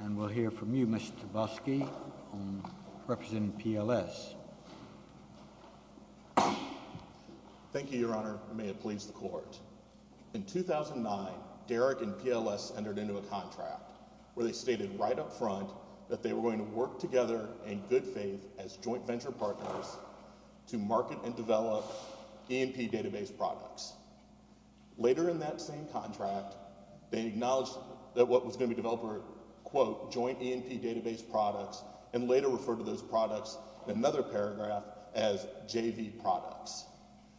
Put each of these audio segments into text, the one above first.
And we'll hear from you, Mr. Tobosky, representing PLS. Thank you, Your Honor, and may it please the Court. In 2009, Derrick and PLS entered into a contract where they stated right up front that they were going to work together in good faith as joint venture partners to market and develop E&P database products. Later in that same contract, they acknowledged that what was going to be developed were, quote, joint E&P database products, and later referred to those products in another paragraph as JV products.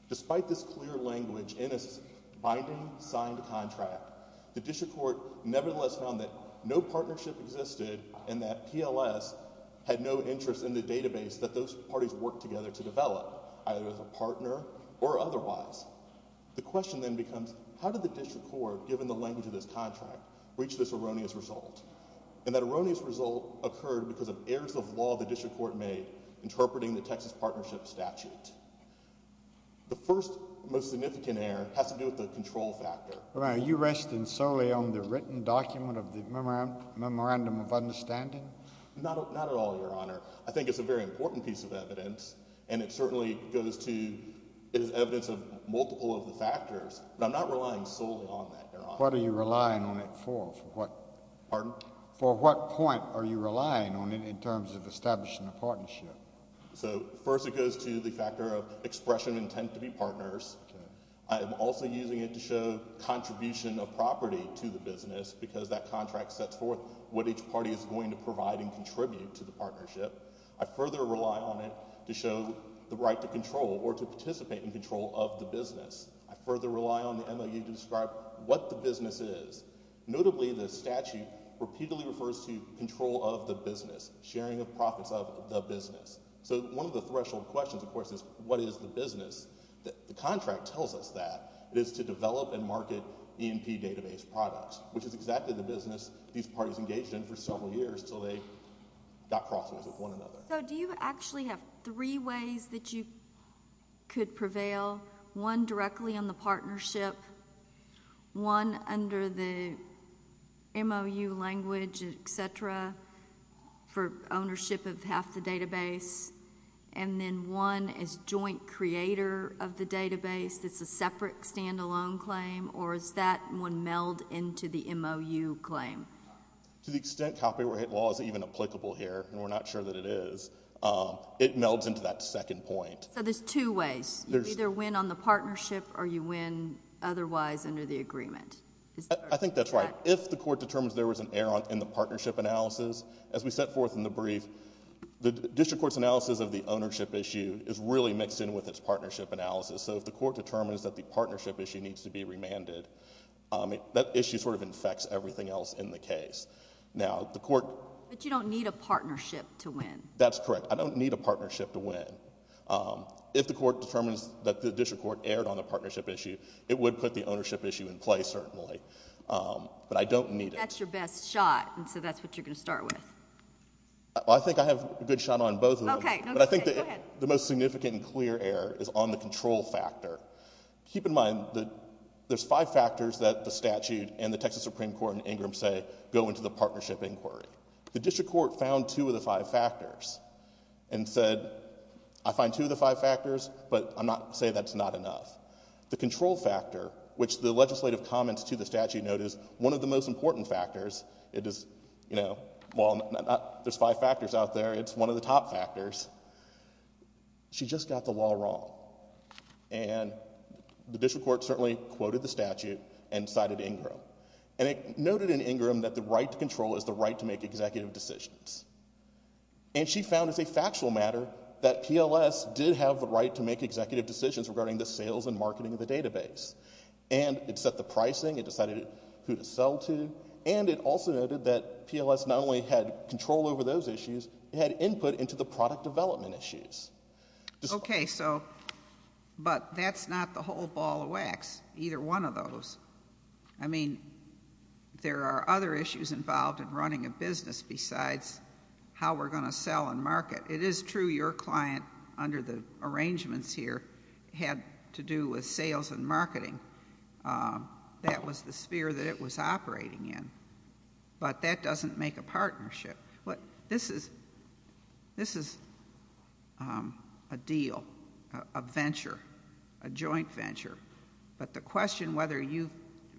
Despite this clear language in a binding signed contract, the District Court nevertheless found that no partnership existed and that PLS had no interest in the database that those parties worked together to develop, either as a partner or otherwise. The question then becomes, how did the District Court, given the language of this contract, reach this erroneous result? And that erroneous result occurred because of errors of law the District Court made interpreting the Texas Partnership Statute. The first most significant error has to do with the control factor. Your Honor, are you resting solely on the written document of the Memorandum of Understanding? Not at all, Your Honor. I think it's a very important piece of evidence, and it certainly goes to it is evidence of multiple of the factors, but I'm not relying solely on that, Your Honor. What are you relying on it for? Pardon? For what point are you relying on it in terms of establishing a partnership? So first it goes to the factor of expression of intent to be partners. I am also using it to show contribution of property to the business because that contract sets forth what each party is going to provide and contribute to the partnership. I further rely on it to show the right to control or to participate in control of the business. I further rely on the MOU to describe what the business is. Notably, the statute repeatedly refers to control of the business, sharing of profits of the business. So one of the threshold questions, of course, is what is the business? The contract tells us that it is to develop and market E&P database products, which is exactly the business these parties engaged in for several years until they got crosswords with one another. So do you actually have three ways that you could prevail, one directly on the partnership, one under the MOU language, et cetera, for ownership of half the database, and then one as joint creator of the database that's a separate stand-alone claim, or does that one meld into the MOU claim? To the extent copyright law is even applicable here, and we're not sure that it is, it melds into that second point. So there's two ways. You either win on the partnership or you win otherwise under the agreement. I think that's right. If the court determines there was an error in the partnership analysis, as we set forth in the brief, the district court's analysis of the ownership issue is really mixed in with its partnership analysis. So if the court determines that the partnership issue needs to be remanded, that issue sort of infects everything else in the case. Now, the court... But you don't need a partnership to win. That's correct. I don't need a partnership to win. If the court determines that the district court erred on the partnership issue, it would put the ownership issue in place, certainly, but I don't need it. That's your best shot, and so that's what you're going to start with. I think I have a good shot on both of them. Go ahead. But I think the most significant and clear error is on the control factor. Keep in mind that there's five factors that the statute and the Texas Supreme Court and Ingram say go into the partnership inquiry. The district court found two of the five factors and said, I find two of the five factors, but I'm not going to say that's not enough. The control factor, which the legislative comments to the statute note is one of the most important factors. It is, you know... Well, there's five factors out there. It's one of the top factors. She just got the law wrong, and the district court certainly quoted the statute and cited Ingram, and it noted in Ingram that the right to control is the right to make executive decisions, and she found, as a factual matter, that PLS did have the right to make executive decisions regarding the sales and marketing of the database, and it set the pricing, it decided who to sell to, and it also noted that PLS not only had control over those issues, it had input into the product development issues. Okay, so... But that's not the whole ball of wax, either one of those. I mean, there are other issues involved in running a business besides how we're going to sell and market. It is true your client, under the arrangements here, had to do with sales and marketing. That was the sphere that it was operating in, but that doesn't make a partnership. This is a deal, a venture, a joint venture, but the question whether you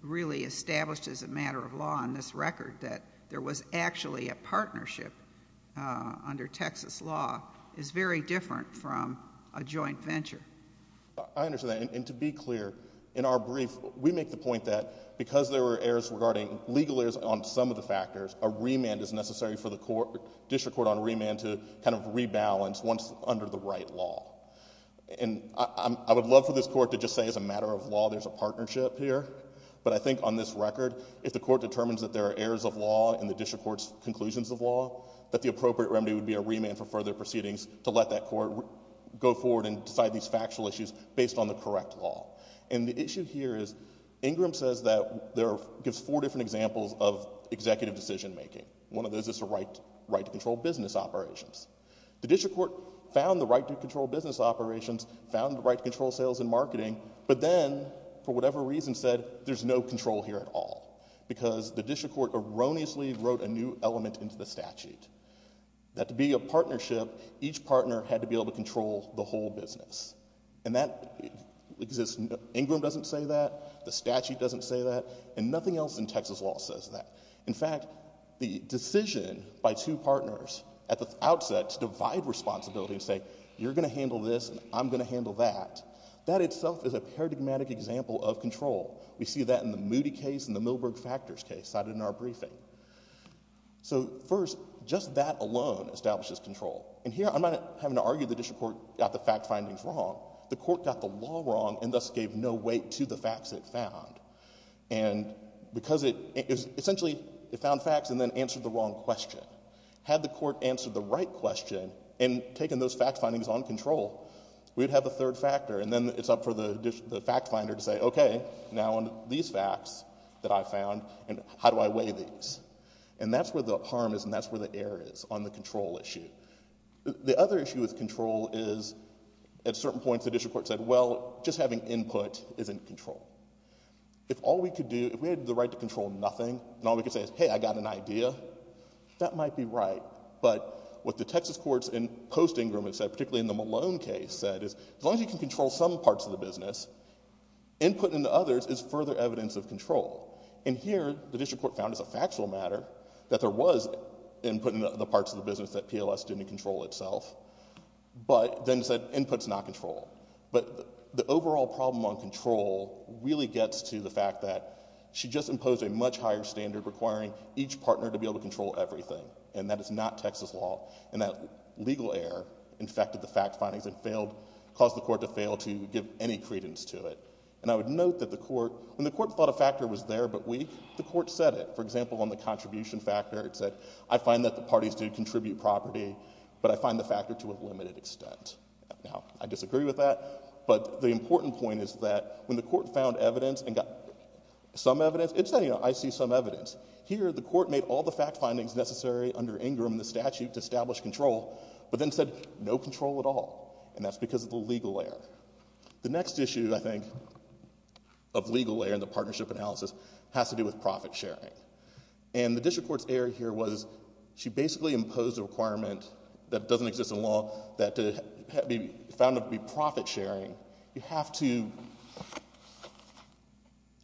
really established as a matter of law on this record that there was actually a partnership under Texas law is very different from a joint venture. I understand that, and to be clear, in our brief, we make the point that because there were errors regarding legal errors on some of the factors, a remand is necessary for the district court on remand to kind of rebalance once under the right law, and I would love for this court to just say, as a matter of law, there's a partnership here, but I think on this record, if the court determines that there are errors of law in the district court's conclusions of law, that the appropriate remedy would be a remand for further proceedings to let that court go forward and decide these factual issues based on the correct law. And the issue here is Ingram says that there are four different examples of executive decision making. One of those is the right to control business operations. The district court found the right to control business operations, found the right to control sales and marketing, but then, for whatever reason, said there's no control here at all because the district court erroneously wrote a new element into the statute, that to be a partnership, each partner had to be able to control the whole business, and Ingram doesn't say that, the statute doesn't say that, and nothing else in Texas law says that. In fact, the decision by two partners at the outset to divide responsibility and say, you're going to handle this and I'm going to handle that, that itself is a paradigmatic example of control. We see that in the Moody case and the Milberg factors case cited in our briefing. So, first, just that alone establishes control. And here I'm not having to argue the district court got the fact findings wrong, the court got the law wrong and thus gave no weight to the facts it found. And because it, essentially, it found facts and then answered the wrong question. Had the court answered the right question and taken those fact findings on control, we'd have a third factor and then it's up for the fact finder to say, okay, now on these facts that I found, how do I weigh these? And that's where the harm is and that's where the error is on the control issue. The other issue with control is at certain points the district court said, well, just having input isn't control. If all we could do, if we had the right to control nothing, and all we could say is, hey, I got an idea, that might be right. But what the Texas courts in post-Ingraham said, particularly in the Malone case, said is as long as you can control some parts of the business, input into others is further evidence of control. And here the district court found as a factual matter that there was input in the parts of the business that PLS didn't control itself, but then said input's not control. But the overall problem on control really gets to the fact that she just imposed a much higher standard requiring each partner to be able to control everything and that is not Texas law. And that legal error infected the fact findings and caused the court to fail to give any credence to it. And I would note that when the court thought a factor was there but weak, the court said it. For example, on the contribution factor it said, I find that the parties do contribute property, but I find the factor to a limited extent. Now, I disagree with that, but the important point is that when the court found evidence and got some evidence, it said, you know, I see some evidence. Here the court made all the fact findings necessary under Ingram in the statute to establish control, but then said no control at all. And that's because of the legal error. The next issue, I think, of legal error in the partnership analysis has to do with profit sharing. And the district court's error here was she basically imposed a requirement that doesn't exist in law that to be found to be profit sharing, you have to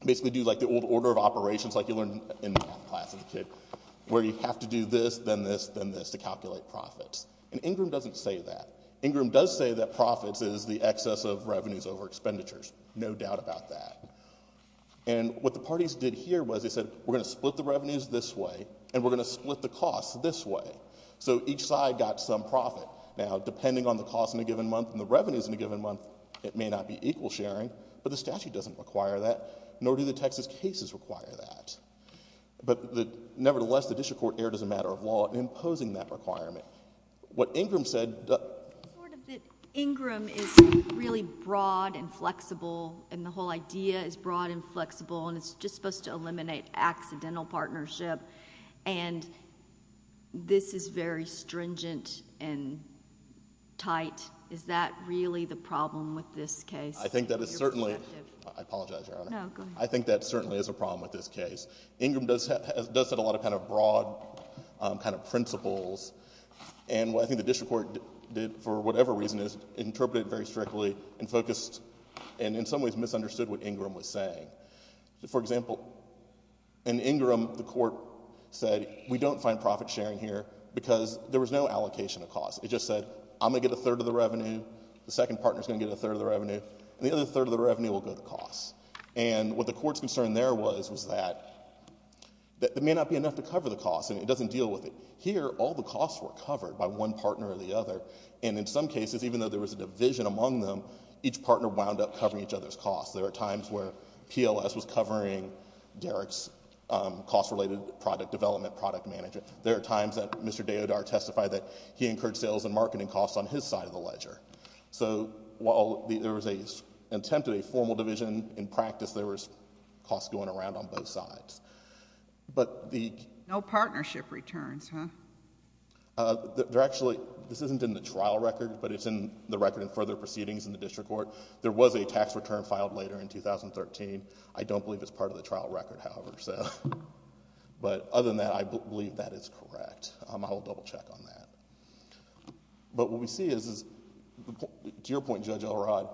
basically do like the old order of operations like you learned in my class as a kid, where you have to do this, then this, then this to calculate profits. And Ingram doesn't say that. Ingram does say that profits is the excess of revenues over expenditures. No doubt about that. And what the parties did here was they said, we're going to split the revenues this way and we're going to split the costs this way. So each side got some profit. Now, depending on the cost in a given month and the revenues in a given month, it may not be equal sharing, but the statute doesn't require that, perhaps. But nevertheless, the district court erred as a matter of law in imposing that requirement. What Ingram said... The point is that Ingram is really broad and flexible and the whole idea is broad and flexible and it's just supposed to eliminate accidental partnership and this is very stringent and tight. Is that really the problem with this case? I think that is certainly... I apologize, Your Honor. No, go ahead. I think that certainly is a problem with this case. Ingram does set a lot of broad principles and what I think the district court did for whatever reason is interpret it very strictly and focused and in some ways misunderstood what Ingram was saying. For example, in Ingram, the court said, we don't find profit sharing here because there was no allocation of costs. It just said, I'm going to get a third of the revenue, the second partner is going to get a third of the revenue, and the other third of the revenue will go to costs. And what the court's concern there was, was that there may not be enough to cover the costs and it doesn't deal with it. Here, all the costs were covered by one partner or the other and in some cases, even though there was a division among them, each partner wound up covering each other's costs. There were times where PLS was covering Derek's cost-related product development, product management. There were times that Mr. Deodar testified that he incurred sales and marketing costs on his side of the ledger. So while there was an attempt at a formal division, in practice, there was costs going around on both sides. But the... No partnership returns, huh? There actually... this isn't in the trial record, but it's in the record in further proceedings in the district court. There was a tax return filed later in 2013. I don't believe it's part of the trial record, however. But other than that, I believe that is correct. I will double-check on that. But what we see is, to your point, Judge Elrod,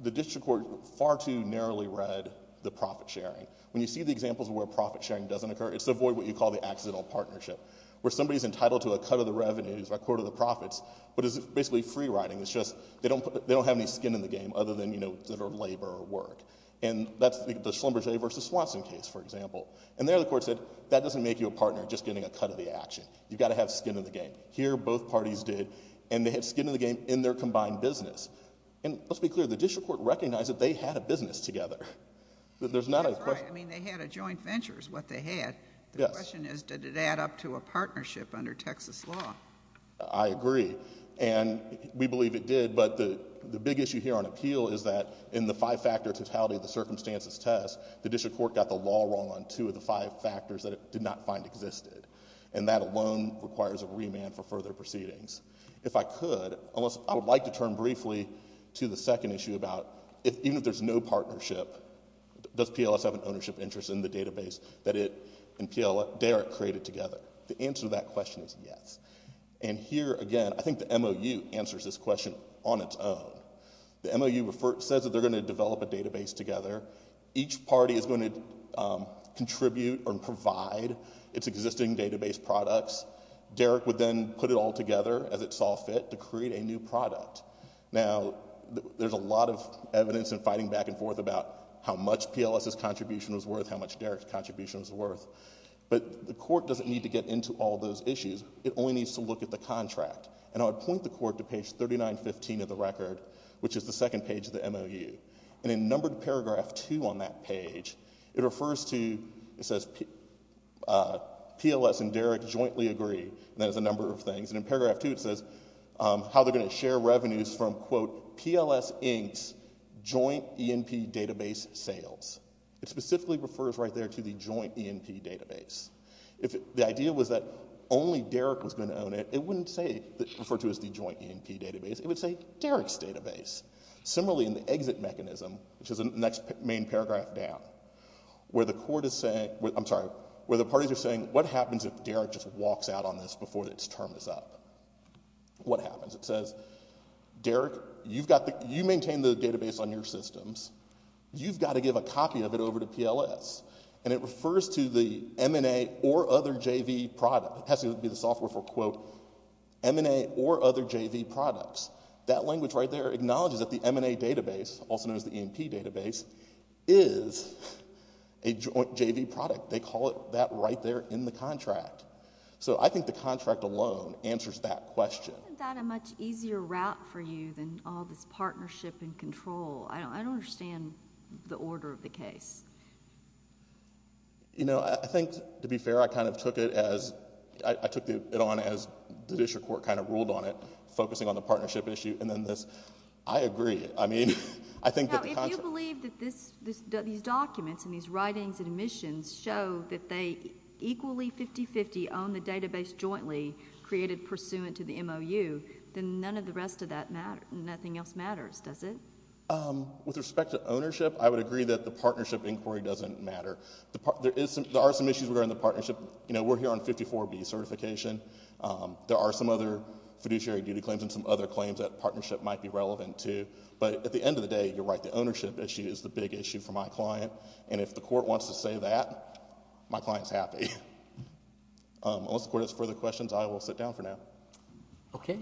the district court far too narrowly read the profit-sharing. When you see the examples where profit-sharing doesn't occur, it's to avoid what you call the accidental partnership, where somebody's entitled to a cut of the revenues by a quarter of the profits, but it's basically free-riding. It's just they don't have any skin in the game other than, you know, labor or work. And that's the Schlumberger v. Swanson case, for example. And there, the court said, that doesn't make you a partner just getting a cut of the action. You've got to have skin in the game. Here, both parties did, and they had skin in the game in their combined business. And let's be clear, the district court recognized that they had a business together. There's not a question... That's right. I mean, they had a joint venture is what they had. Yes. The question is, did it add up to a partnership under Texas law? I agree, and we believe it did. But the big issue here on appeal is that in the five-factor totality of the circumstances test, the district court got the law wrong on two of the five factors that it did not find existed. And that alone requires a remand for further proceedings. If I could, I would like to turn briefly to the second issue about, even if there's no partnership, does PLS have an ownership interest in the database that it and Derek created together? The answer to that question is yes. And here, again, I think the MOU answers this question on its own. The MOU says that they're going to develop a database together. Each party is going to contribute or provide its existing database products. Derek would then put it all together, as it saw fit, to create a new product. Now, there's a lot of evidence in fighting back and forth about how much PLS's contribution was worth, how much Derek's contribution was worth. But the court doesn't need to get into all those issues. It only needs to look at the contract. And I would point the court to page 3915 of the record, which is the second page of the MOU. And in numbered paragraph 2 on that page, it refers to, it says, PLS and Derek jointly agree. That is a number of things. And in paragraph 2, it says how they're going to share revenues from, quote, PLS Inc.'s joint E&P database sales. It specifically refers right there to the joint E&P database. If the idea was that only Derek was going to own it, it wouldn't refer to it as the joint E&P database. It would say Derek's database. Similarly, in the exit mechanism, which is the next main paragraph down, where the court is saying... I'm sorry, where the parties are saying, what happens if Derek just walks out on this before its term is up? What happens? It says, Derek, you maintain the database on your systems. You've got to give a copy of it over to PLS. And it refers to the M&A or other JV product. It has to be the software for, quote, M&A or other JV products. That language right there acknowledges that the M&A database, also known as the E&P database, is a joint JV product. They call it that right there in the contract. So I think the contract alone answers that question. Isn't that a much easier route for you than all this partnership and control? I don't understand the order of the case. You know, I think, to be fair, I kind of took it as... I took it on as the district court kind of ruled on it, focusing on the partnership issue, and then this... I agree. I mean, I think that the contract... Now, if you believe that these documents and these writings and admissions show that they equally 50-50 own the database jointly created pursuant to the MOU, then none of the rest of that matters. Nothing else matters, does it? With respect to ownership, I would agree that the partnership inquiry doesn't matter. There are some issues regarding the partnership. You know, we're here on 54B certification. There are some other fiduciary duty claims and some other claims that partnership might be relevant to. But at the end of the day, you're right. The ownership issue is the big issue for my client, and if the court wants to say that, my client's happy. Unless the court has further questions, I will sit down for now. Okay.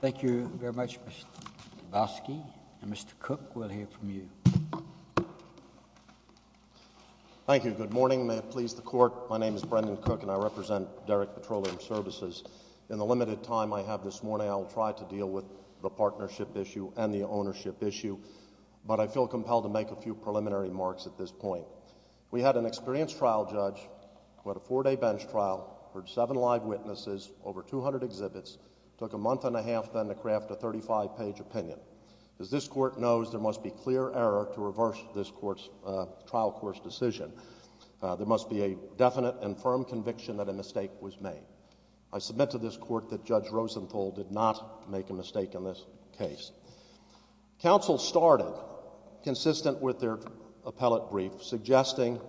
Thank you very much, Mr. Dabowski. And Mr. Cook, we'll hear from you. Thank you. Good morning. May it please the Court. My name is Brendan Cook, and I represent Derrick Petroleum Services. In the limited time I have this morning, I will try to deal with the partnership issue and the ownership issue, but I feel compelled to make a few preliminary remarks at this point. We had an experienced trial judge who had a four-day bench trial, heard seven live witnesses, over 200 exhibits, took a month and a half then to craft a 35-page opinion. As this Court knows, there must be clear error to reverse this trial court's decision. There must be a definite and firm conviction that a mistake was made. I submit to this Court that Judge Rosenthal did not make a mistake in this case. Counsel started, consistent with their appellate brief, suggesting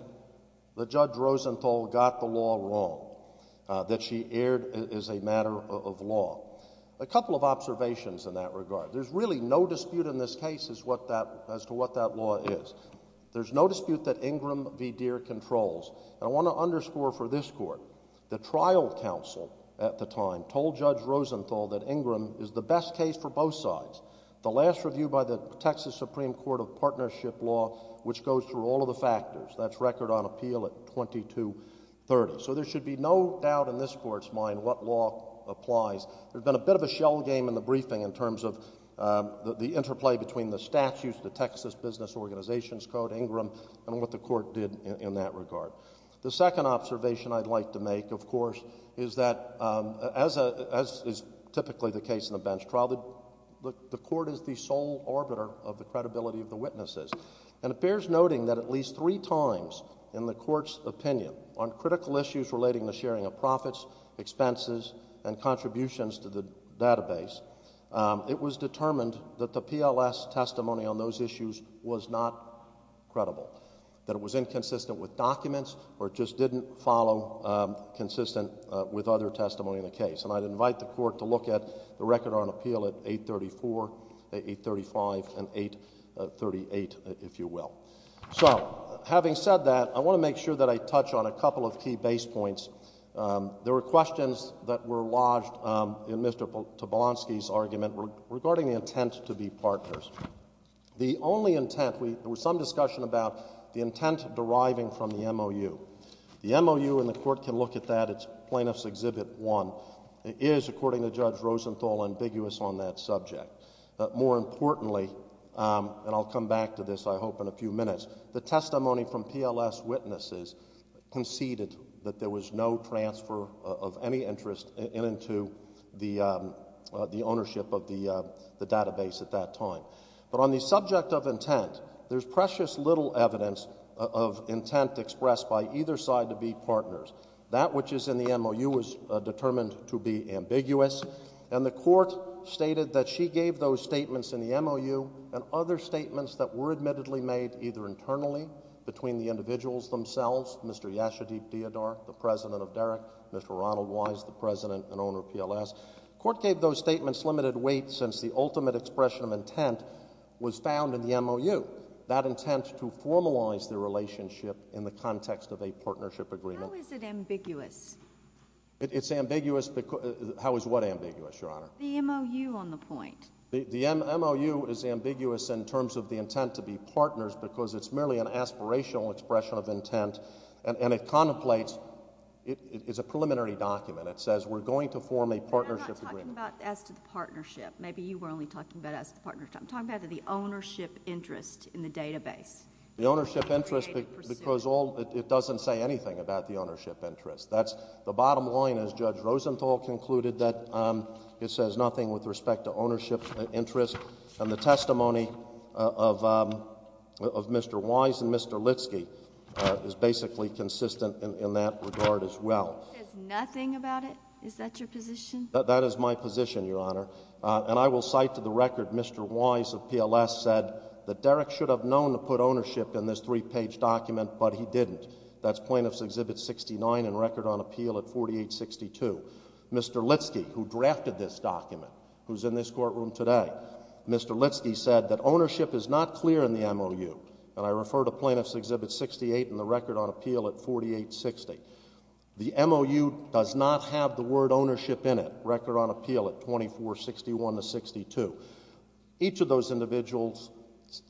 that Judge Rosenthal got the law wrong, that she erred as a matter of law. A couple of observations in that regard. There's really no dispute in this case as to what that law is. There's no dispute that Ingram v. Deere controls. And I want to underscore for this Court that the trial counsel at the time told Judge Rosenthal that Ingram is the best case for both sides. The last review by the Texas Supreme Court of Partnership Law, which goes through all of the factors, that's record on appeal at 2230. So there should be no doubt in this Court's mind what law applies. There's been a bit of a shell game in the briefing in terms of the interplay between the statutes, the Texas Business Organizations Code, Ingram, and what the Court did in that regard. The second observation I'd like to make, of course, is that, as is typically the case in a bench trial, the Court is the sole orbiter of the credibility of the witnesses. And it bears noting that at least three times in the Court's opinion on critical issues relating to the sharing of profits, expenses, and contributions to the database, it was determined that the PLS testimony on those issues was not credible, that it was inconsistent with documents, or it just didn't follow consistent with other testimony in the case. And I'd invite the Court to look at the record on appeal at 834, 835, and 838, if you will. So, having said that, I want to make sure that I touch on a couple of key base points. There were questions that were lodged in Mr. Tobolsky's argument regarding the intent to be partners. The only intent... There was some discussion about the intent deriving from the MOU. The MOU, and the Court can look at that. It's Plaintiffs' Exhibit 1. It is, according to Judge Rosenthal, ambiguous on that subject. But more importantly, and I'll come back to this, I hope, in a few minutes, the testimony from PLS witnesses conceded that there was no transfer of any interest into the ownership of the database at that time. But on the subject of intent, there's precious little evidence of intent expressed by either side to be partners. That which is in the MOU was determined to be ambiguous, and the Court stated that she gave those statements in the MOU and other statements that were admittedly made, either internally, between the individuals themselves, Mr. Yashadib Deodar, the president of DEREC, Mr. Ronald Wise, the president and owner of PLS. The Court gave those statements limited weight since the ultimate expression of intent was found in the MOU, that intent to formalize the relationship in the context of a partnership agreement. How is it ambiguous? It's ambiguous because... How is what ambiguous, Your Honor? The MOU on the point. The MOU is ambiguous in terms of the intent to be partners because it's merely an aspirational expression of intent, and it contemplates... It's a preliminary document. It says we're going to form a partnership agreement. We're not talking about as to the partnership. Maybe you were only talking about as to the partnership. I'm talking about the ownership interest in the database. The ownership interest because all... It doesn't say anything about the ownership interest. That's the bottom line, as Judge Rosenthal concluded, that it says nothing with respect to ownership interest, and the testimony of Mr. Wise and Mr. Litsky is basically consistent in that regard as well. It says nothing about it? Is that your position? That is my position, Your Honor, and I will cite to the record Mr. Wise of PLS said that Derek should have known to put ownership in this 3-page document, but he didn't. That's Plaintiffs' Exhibit 69 and Record on Appeal at 4862. Mr. Litsky, who drafted this document, who's in this courtroom today, Mr. Litsky said that ownership is not clear in the MOU, and I refer to Plaintiffs' Exhibit 68 and the Record on Appeal at 4860. The MOU does not have the word ownership in it, Record on Appeal at 2461 to 62. Each of those individuals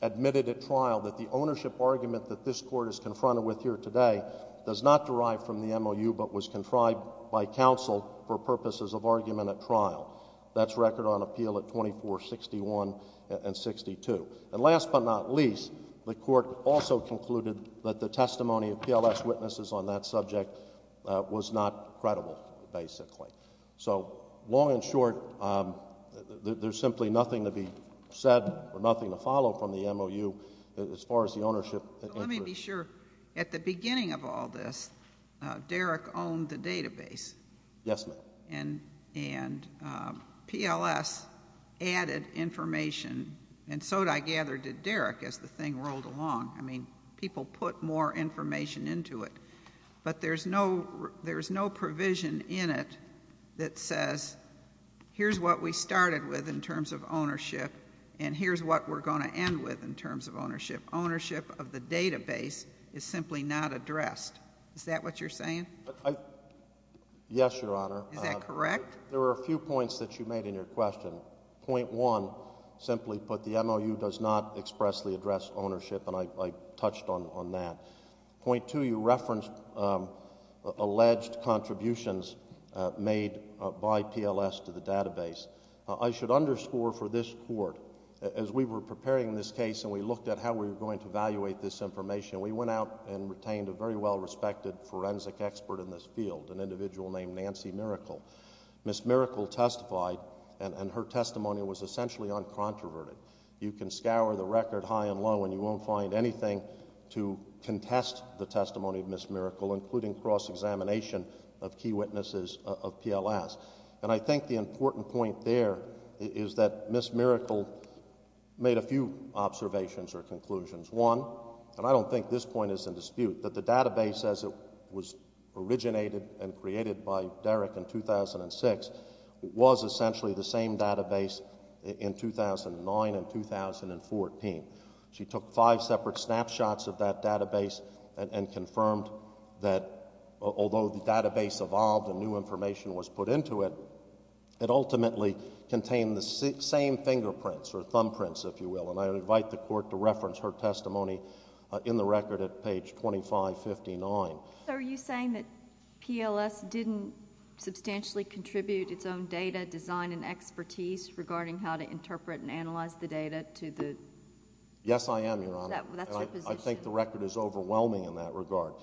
admitted at trial that the ownership argument that this Court is confronted with here today does not derive from the MOU, but was contrived by counsel for purposes of argument at trial. That's Record on Appeal at 2461 and 62. And last but not least, the Court also concluded that the testimony of PLS witnesses on that subject was not credible, basically. So, long and short, there's simply nothing to be said or nothing to follow from the MOU as far as the ownership. Let me be sure. At the beginning of all this, Derek owned the database. Yes, ma'am. And PLS added information, and so, I gather, did Derek as the thing rolled along. I mean, people put more information into it, but there's no provision in it that says, here's what we started with in terms of ownership and here's what we're going to end with in terms of ownership. Ownership of the database is simply not addressed. Is that what you're saying? Yes, Your Honor. Is that correct? There were a few points that you made in your question. Point one, simply put, the MOU does not expressly address ownership, and I touched on that. Point two, you referenced alleged contributions made by PLS to the database. I should underscore for this Court, as we were preparing this case and we looked at how we were going to evaluate this information, we went out and retained a very well-respected forensic expert in this field, an individual named Nancy Miracle. Ms. Miracle testified, and her testimony was essentially uncontroverted. You can scour the record high and low and you won't find anything to contest the testimony of Ms. Miracle, including cross-examination of key witnesses of PLS. And I think the important point there is that Ms. Miracle made a few observations or conclusions. One, and I don't think this point is in dispute, that the database as it was originated and created by Derrick in 2006 was essentially the same database in 2009 and 2014. She took five separate snapshots of that database and confirmed that although the database evolved and new information was put into it, it ultimately contained the same fingerprints, or thumbprints, if you will, and I invite the Court to reference her testimony in the record at page 2559. So are you saying that PLS didn't substantially contribute its own data design and expertise regarding how to interpret and analyze the data to the... Yes, I am, Your Honor. I think the record is overwhelming in that regard.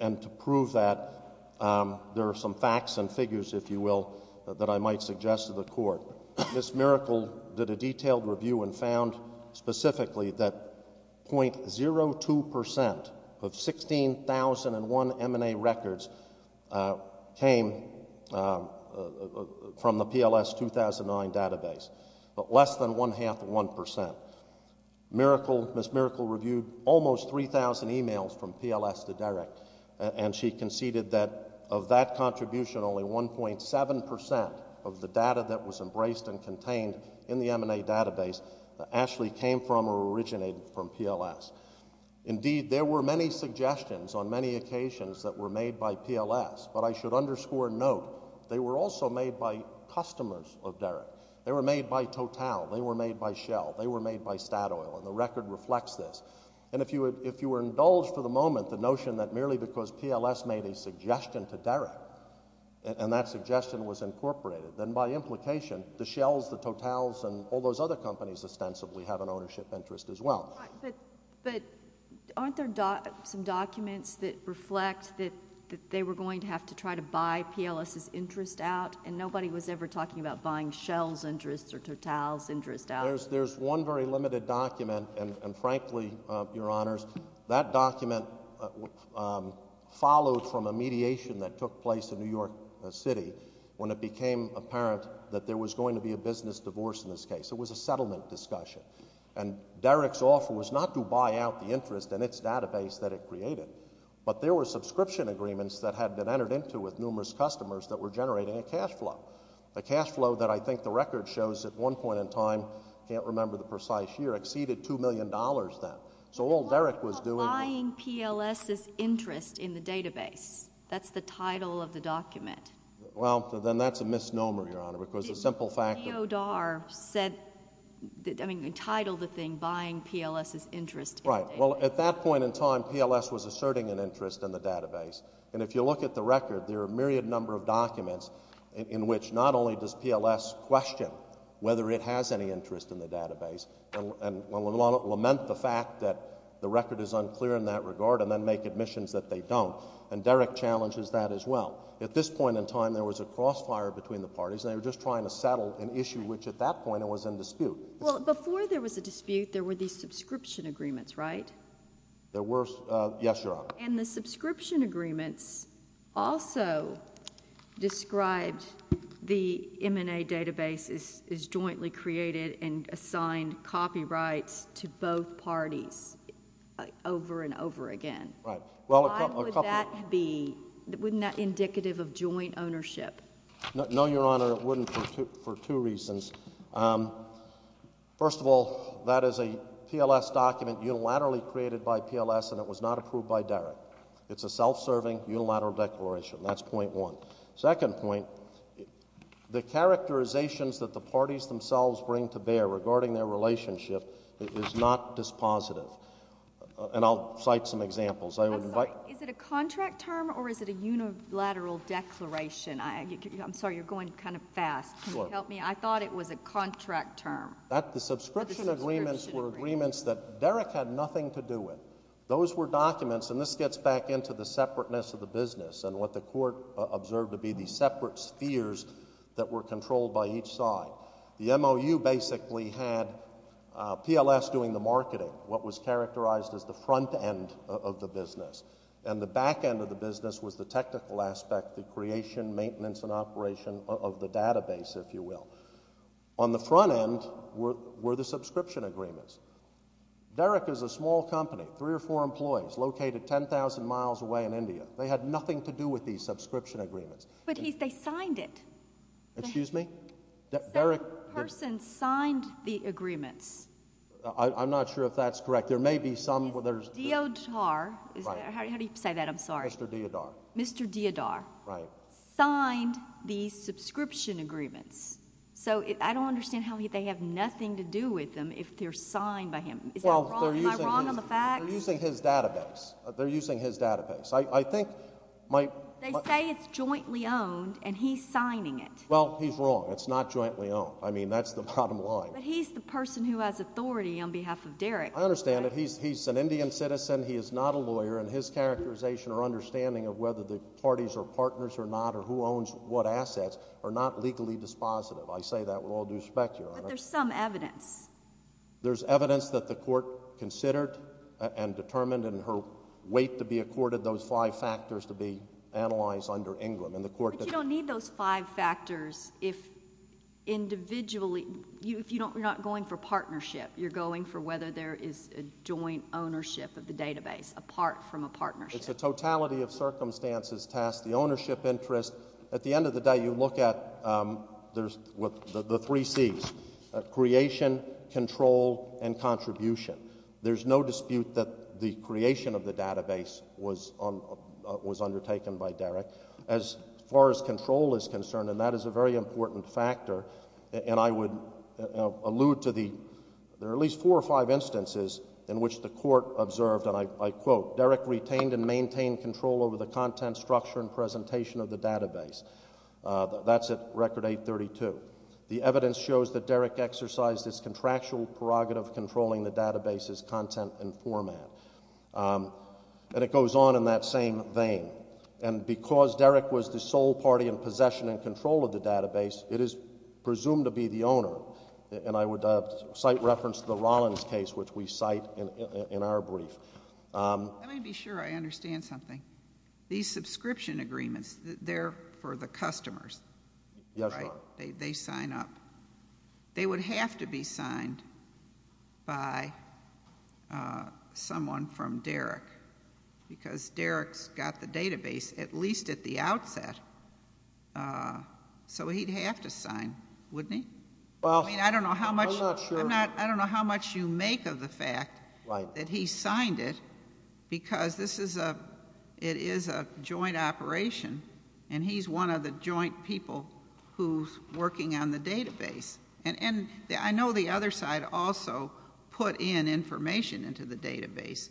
And to prove that, there are some facts and figures, if you will, that I might suggest to the Court. Ms. Miracle did a detailed review and found specifically that .02% of 16,001 M&A records came from the PLS 2009 database, but less than one-half of 1%. Ms. Miracle reviewed almost 3,000 e-mails from PLS to Derrick, and she conceded that of that contribution, only 1.7% of the data that was embraced and contained in the M&A database actually came from or originated from PLS. Indeed, there were many suggestions on many occasions that were made by PLS, but I should underscore and note they were also made by customers of Derrick. They were made by Total, they were made by Shell, they were made by Statoil, and the record reflects this. And if you were indulged for the moment the notion that merely because PLS made a suggestion to Derrick and that suggestion was incorporated, then by implication the Shells, the Totals, and all those other companies ostensibly have an ownership interest as well. But aren't there some documents that reflect that they were going to have to try to buy PLS's interest out, and nobody was ever talking about buying Shell's interest or Totals' interest out? There's one very limited document, and frankly, Your Honors, that document followed from a mediation that took place in New York City when it became apparent that there was going to be a business divorce in this case. It was a settlement discussion. And Derrick's offer was not to buy out the interest in its database that it created, but there were subscription agreements that had been entered into with numerous customers that were generating a cash flow, a cash flow that I think the record shows at one point in time, I can't remember the precise year, exceeded $2 million then. So all Derrick was doing... What about buying PLS's interest in the database? That's the title of the document. Well, then that's a misnomer, Your Honor, because the simple fact of... Neo Dar said, I mean, entitled the thing Buying PLS's Interest in the Database. Right. Well, at that point in time, PLS was asserting an interest in the database. And if you look at the record, there are a myriad number of documents in which not only does PLS question whether it has any interest in the database and will lament the fact that the record is unclear in that regard and then make admissions that they don't and Derrick challenges that as well. At this point in time, there was a crossfire between the parties, and they were just trying to settle an issue which at that point was in dispute. Well, before there was a dispute, there were these subscription agreements, right? There were... Yes, Your Honor. And the subscription agreements also described the M&A database as jointly created and assigned copyrights to both parties over and over again. Right. Well, a couple... Why would that be... Wouldn't that be indicative of joint ownership? No, Your Honor, it wouldn't for two reasons. First of all, that is a PLS document unilaterally created by PLS, and it was not approved by Derrick. It's a self-serving unilateral declaration. That's point one. Second point, the characterizations that the parties themselves bring to bear regarding their relationship is not dispositive. And I'll cite some examples. I would invite... I'm sorry, is it a contract term or is it a unilateral declaration? I'm sorry, you're going kind of fast. Can you help me? Sure. I thought it was a contract term. The subscription agreements were agreements that Derrick had nothing to do with. Those were documents, and this gets back into the separateness of the business and what the Court observed to be these separate spheres that were controlled by each side. The MOU basically had PLS doing the marketing. What was characterized as the front end of the business, and the back end of the business was the technical aspect, the creation, maintenance, and operation of the database, if you will. On the front end were the subscription agreements. Derrick is a small company, three or four employees, located 10,000 miles away in India. They had nothing to do with these subscription agreements. But they signed it. Excuse me? The person signed the agreements. I'm not sure if that's correct. There may be some... Deodar. How do you say that? I'm sorry. Mr. Deodar. Mr. Deodar signed the subscription agreements. So I don't understand how they have nothing to do with them if they're signed by him. Am I wrong on the facts? They're using his database. They're using his database. They say it's jointly owned, and he's signing it. Well, he's wrong. It's not jointly owned. I mean, that's the bottom line. But he's the person who has authority on behalf of Derrick. I understand that. He's an Indian citizen. He is not a lawyer, and his characterization or understanding of whether the parties are partners or not or who owns what assets are not legally dispositive. I say that with all due respect, Your Honor. But there's some evidence. There's evidence that the court considered and determined and her weight to be accorded those five factors to be analyzed under England. But you don't need those five factors if individually... If you're not going for partnership, you're going for whether there is a joint ownership of the database apart from a partnership. It's a totality of circumstances, tasks, the ownership interest. At the end of the day, you look at the three Cs, creation, control, and contribution. There's no dispute that the creation of the database was undertaken by Derrick. As far as control is concerned, and that is a very important factor, and I would allude to the... There are at least four or five instances in which the court observed, and I quote, Derrick retained and maintained control over the content structure and presentation of the database. That's at Record 832. The evidence shows that Derrick exercised his contractual prerogative of controlling the database's content and format. And it goes on in that same vein. And because Derrick was the sole party in possession and control of the database, it is presumed to be the owner, and I would cite reference to the Rollins case, which we cite in our brief. Let me be sure I understand something. These subscription agreements, they're for the customers, right? Yes, Your Honor. They sign up. They would have to be signed by someone from Derrick because Derrick's got the database at least at the outset, so he'd have to sign, wouldn't he? Well, I'm not sure. I don't know how much you make of the fact that he signed it because it is a joint operation, and he's one of the joint people who's working on the database. And I know the other side also put in information into the database,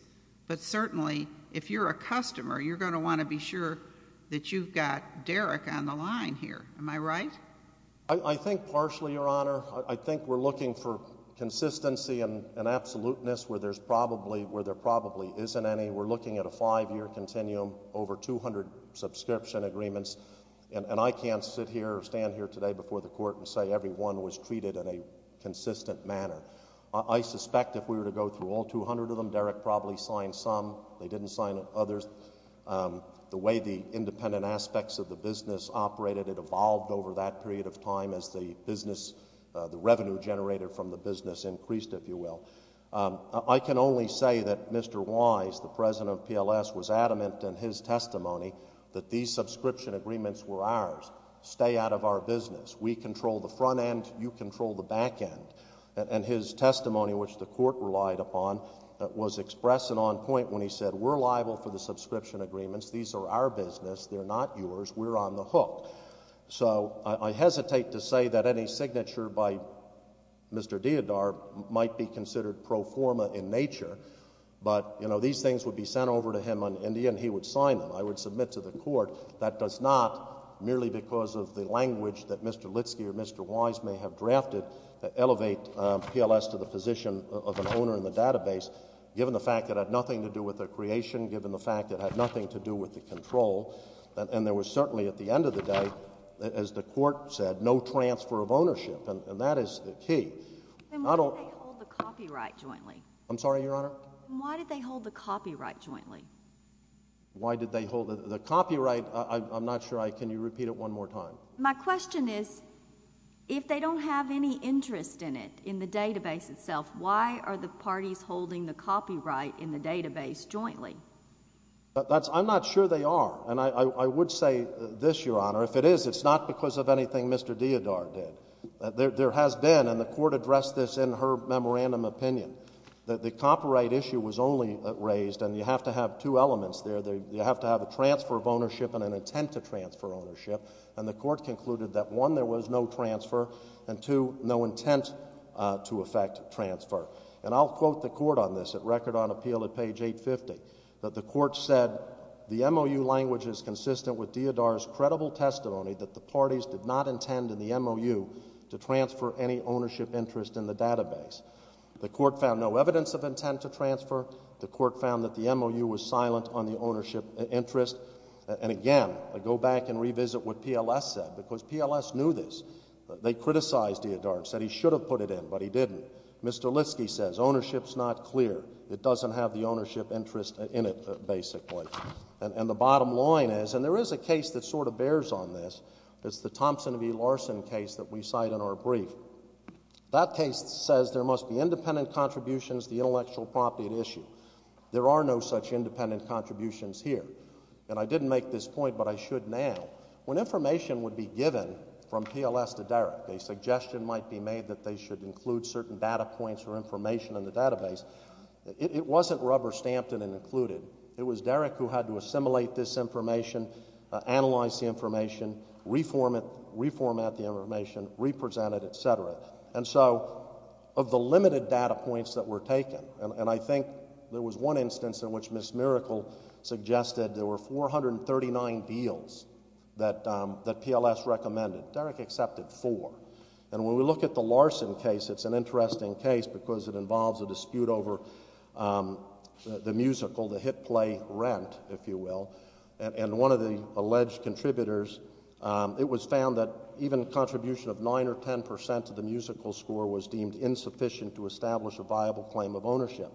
but certainly if you're a customer, you're going to want to be sure that you've got Derrick on the line here. Am I right? I think partially, Your Honor. I think we're looking for consistency and absoluteness where there probably isn't any. We're looking at a five-year continuum, over 200 subscription agreements, and I can't sit here or stand here today before the Court and say every one was treated in a consistent manner. I suspect if we were to go through all 200 of them, Derrick probably signed some. They didn't sign others. The way the independent aspects of the business operated, it evolved over that period of time as the revenue generated from the business increased, if you will. I can only say that Mr. Wise, the president of PLS, was adamant in his testimony that these subscription agreements were ours, stay out of our business. We control the front end, you control the back end. And his testimony, which the Court relied upon, was expressed and on point when he said we're liable for the subscription agreements, these are our business, they're not yours, we're on the hook. So I hesitate to say that any signature by Mr. Diodar might be considered pro forma in nature, but these things would be sent over to him on India and he would sign them. I would submit to the Court that does not, merely because of the language that Mr. Litsky or Mr. Wise may have drafted, elevate PLS to the position of an owner in the database, given the fact that it had nothing to do with the creation, given the fact that it had nothing to do with the control, and there was certainly at the end of the day, as the Court said, no transfer of ownership, and that is the key. Why did they hold the copyright jointly? I'm sorry, Your Honor? Why did they hold the copyright jointly? Why did they hold the copyright? I'm not sure, can you repeat it one more time? My question is, if they don't have any interest in it, in the database itself, why are the parties holding the copyright in the database jointly? I'm not sure they are. And I would say this, Your Honor, if it is, it's not because of anything Mr. Diodar did. There has been, and the Court addressed this in her memorandum opinion, that the copyright issue was only raised, and you have to have two elements there. You have to have a transfer of ownership and an intent to transfer ownership, and the Court concluded that, one, there was no transfer, and two, no intent to effect transfer. And I'll quote the Court on this at record on appeal at page 850, that the Court said, the MOU language is consistent with Diodar's credible testimony that the parties did not intend in the MOU to transfer any ownership interest in the database. The Court found no evidence of intent to transfer. The Court found that the MOU was silent on the ownership interest. And again, I go back and revisit what PLS said, because PLS knew this. They criticized Diodar and said he should have put it in, but he didn't. Mr. Litsky says ownership's not clear. It doesn't have the ownership interest in it, basically. And the bottom line is, and there is a case that sort of bears on this, it's the Thompson v. Larson case that we cite in our brief. That case says there must be independent contributions to the intellectual property at issue. There are no such independent contributions here. And I didn't make this point, but I should now. When information would be given from PLS to Derrick, a suggestion might be made that they should include certain data points or information in the database, it wasn't rubber-stamped and included. It was Derrick who had to assimilate this information, analyze the information, reformat the information, represent it, et cetera. And so of the limited data points that were taken, and I think there was one instance in which Ms. Miracle suggested there were 439 deals that PLS recommended. Derrick accepted four. And when we look at the Larson case, it's an interesting case because it involves a dispute over the musical, the hit play Rent, if you will. And one of the alleged contributors, it was found that even a contribution of 9% or 10% to the musical score was deemed insufficient to establish a viable claim of ownership.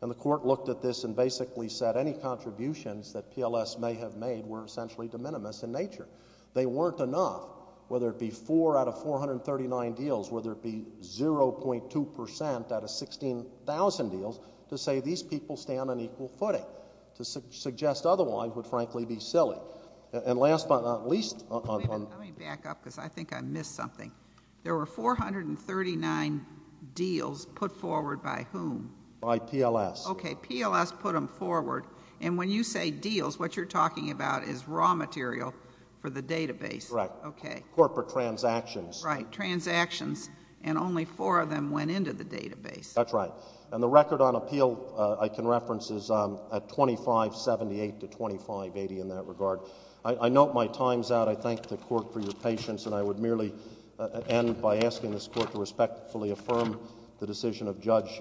And the court looked at this and basically said that any contributions that PLS may have made were essentially de minimis in nature. They weren't enough, whether it be 4 out of 439 deals, whether it be 0.2% out of 16,000 deals, to say these people stand on equal footing. To suggest otherwise would frankly be silly. And last but not least... Let me back up because I think I missed something. There were 439 deals put forward by whom? By PLS. Okay, PLS put them forward. And when you say deals, what you're talking about is raw material for the database. Correct. Okay. Corporate transactions. Right, transactions. And only four of them went into the database. That's right. And the record on appeal I can reference is 2578 to 2580 in that regard. I note my times out. I thank the court for your patience. And I would merely end by asking this court to respectfully affirm the decision of Judge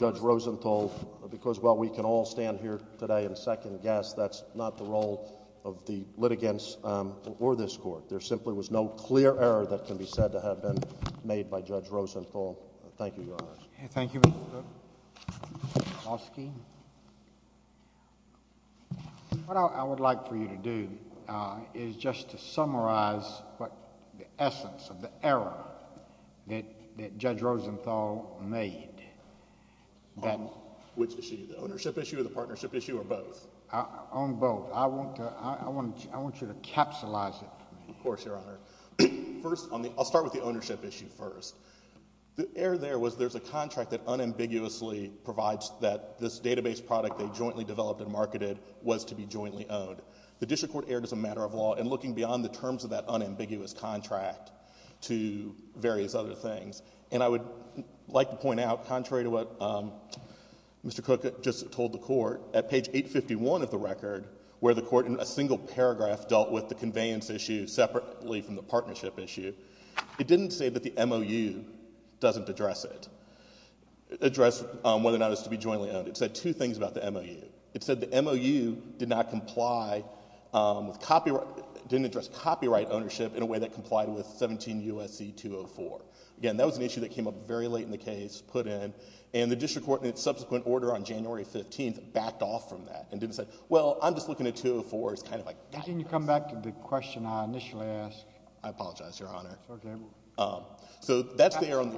Rosenthal because while we can all stand here today and second guess, that's not the role of the litigants or this court. There simply was no clear error that can be said to have been made by Judge Rosenthal. Thank you, Your Honor. Thank you, Mr. Cook. Oski. What I would like for you to do is just to summarize what the essence of the error that Judge Rosenthal made. Which issue? The ownership issue or the partnership issue or both? On both. I want you to capsulize it for me. Of course, Your Honor. First, I'll start with the ownership issue first. The error there was there's a contract that unambiguously provides that this database product they jointly developed and marketed was to be jointly owned. The district court erred as a matter of law in looking beyond the terms of that unambiguous contract to various other things. And I would like to point out, contrary to what Mr. Cook just told the court, at page 851 of the record, where the court in a single paragraph dealt with the conveyance issue separately from the partnership issue, it didn't say that the MOU doesn't address it, address whether or not it's to be jointly owned. It said two things about the MOU. It said the MOU did not comply with copyright... didn't address copyright ownership in a way that complied with 17 U.S.C. 204. Again, that was an issue that came up very late in the case, put in, and the district court in its subsequent order on January 15th backed off from that and didn't say, well, I'm just looking at 204 as kind of like... Can you come back to the question I initially asked? I apologize, Your Honor. Okay. So that's the error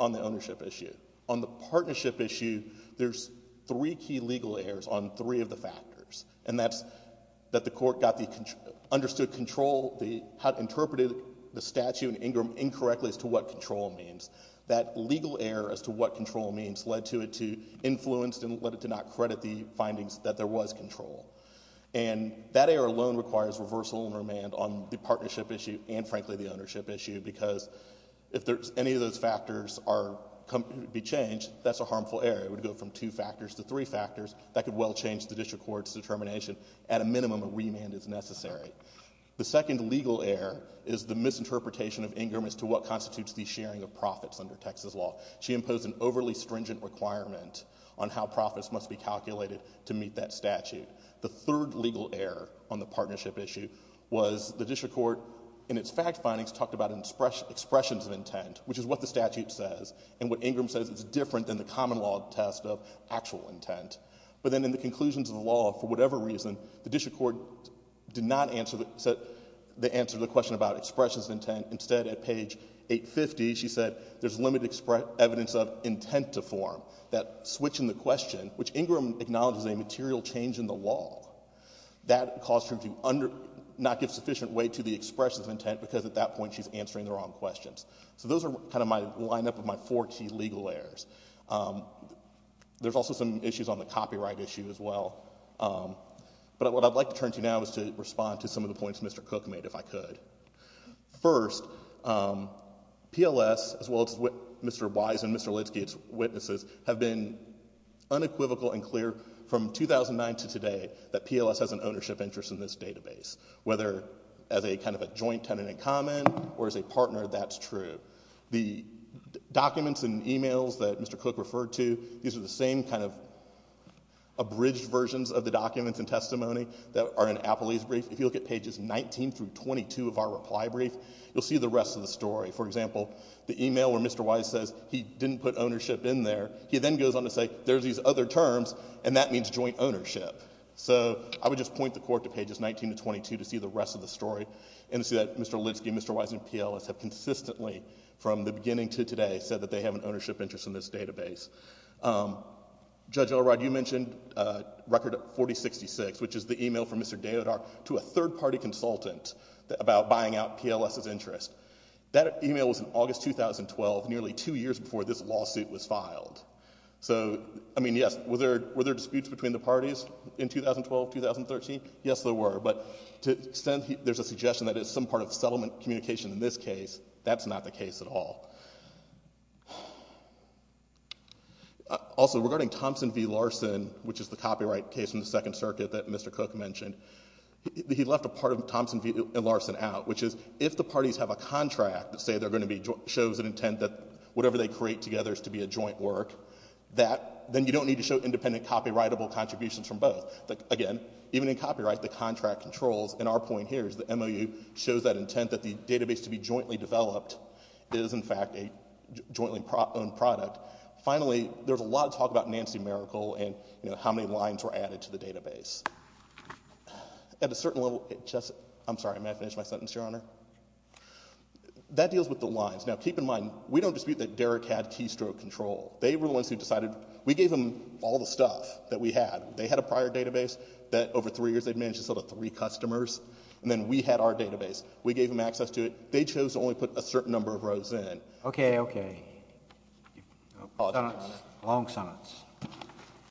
on the ownership issue. On the partnership issue, there's three key legal errors on three of the factors, and that's that the court understood control, how it interpreted the statute and Ingram incorrectly as to what control means. That legal error as to what control means led to it to influence and led it to not credit the findings that there was control. And that error alone requires reversal and remand on the partnership issue and, frankly, the ownership issue because if any of those factors be changed, that's a harmful error. It would go from two factors to three factors. That could well change the district court's determination. At a minimum, a remand is necessary. The second legal error is the misinterpretation of Ingram as to what constitutes the sharing of profits under Texas law. She imposed an overly stringent requirement on how profits must be calculated to meet that statute. The third legal error on the partnership issue was the district court, in its fact findings, talked about expressions of intent, which is what the statute says and what Ingram says is different than the common law test of actual intent. But then in the conclusions of the law, for whatever reason, the district court did not answer the question about expressions of intent. Instead, at page 850, she said there's limited evidence of intent to form, that switch in the question, which Ingram acknowledges is a material change in the law. That caused her to not give sufficient weight to the expressions of intent because at that point she's answering the wrong questions. So those are kind of my line-up of my four key legal errors. There's also some issues on the copyright issue as well. But what I'd like to turn to now is to respond to some of the points Mr. Cook made, if I could. First, PLS, as well as Mr. Wise and Mr. Lidsky, its witnesses, have been unequivocal and clear from 2009 to today that PLS has an ownership interest in this database, whether as a kind of a joint tenant in common or as a partner, that's true. The documents and emails that Mr. Cook referred to, these are the same kind of abridged versions of the documents and testimony that are in Appley's brief. If you look at pages 19 through 22 of our reply brief, you'll see the rest of the story. For example, the email where Mr. Wise says he didn't put ownership in there, he then goes on to say there's these other terms and that means joint ownership. So I would just point the court to pages 19 to 22 to see the rest of the story, and to see that Mr. Lidsky and Mr. Wise and PLS have consistently, from the beginning to today, said that they have an ownership interest in this database. Judge Elrod, you mentioned Record 4066, which is the email from Mr. Diodar to a third-party consultant about buying out PLS's interest. That email was in August 2012, nearly two years before this lawsuit was filed. So, I mean, yes, were there disputes between the parties in 2012, 2013? Yes, there were, but to the extent there's a suggestion that it's some part of settlement communication in this case, that's not the case at all. Also, regarding Thompson v. Larson, which is the copyright case in the Second Circuit that Mr. Cook mentioned, he left a part of Thompson v. Larson out, which is if the parties have a contract that shows an intent that whatever they create together is to be a joint work, then you don't need to show independent copyrightable contributions from both. Again, even in copyright, the contract controls, and our point here is the MOU shows that intent that the database to be jointly developed is, in fact, a jointly-owned product. Finally, there's a lot of talk about Nancy Miracle and how many lines were added to the database. At a certain level... I'm sorry, may I finish my sentence, Your Honor? That deals with the lines. Now, keep in mind, we don't dispute that Derek had keystroke control. They were the ones who decided... We gave them all the stuff that we had. They had a prior database that, over three years, they'd managed to sell to three customers, and then we had our database. We gave them access to it. They chose to only put a certain number of rows in. Okay, okay. Long sentence.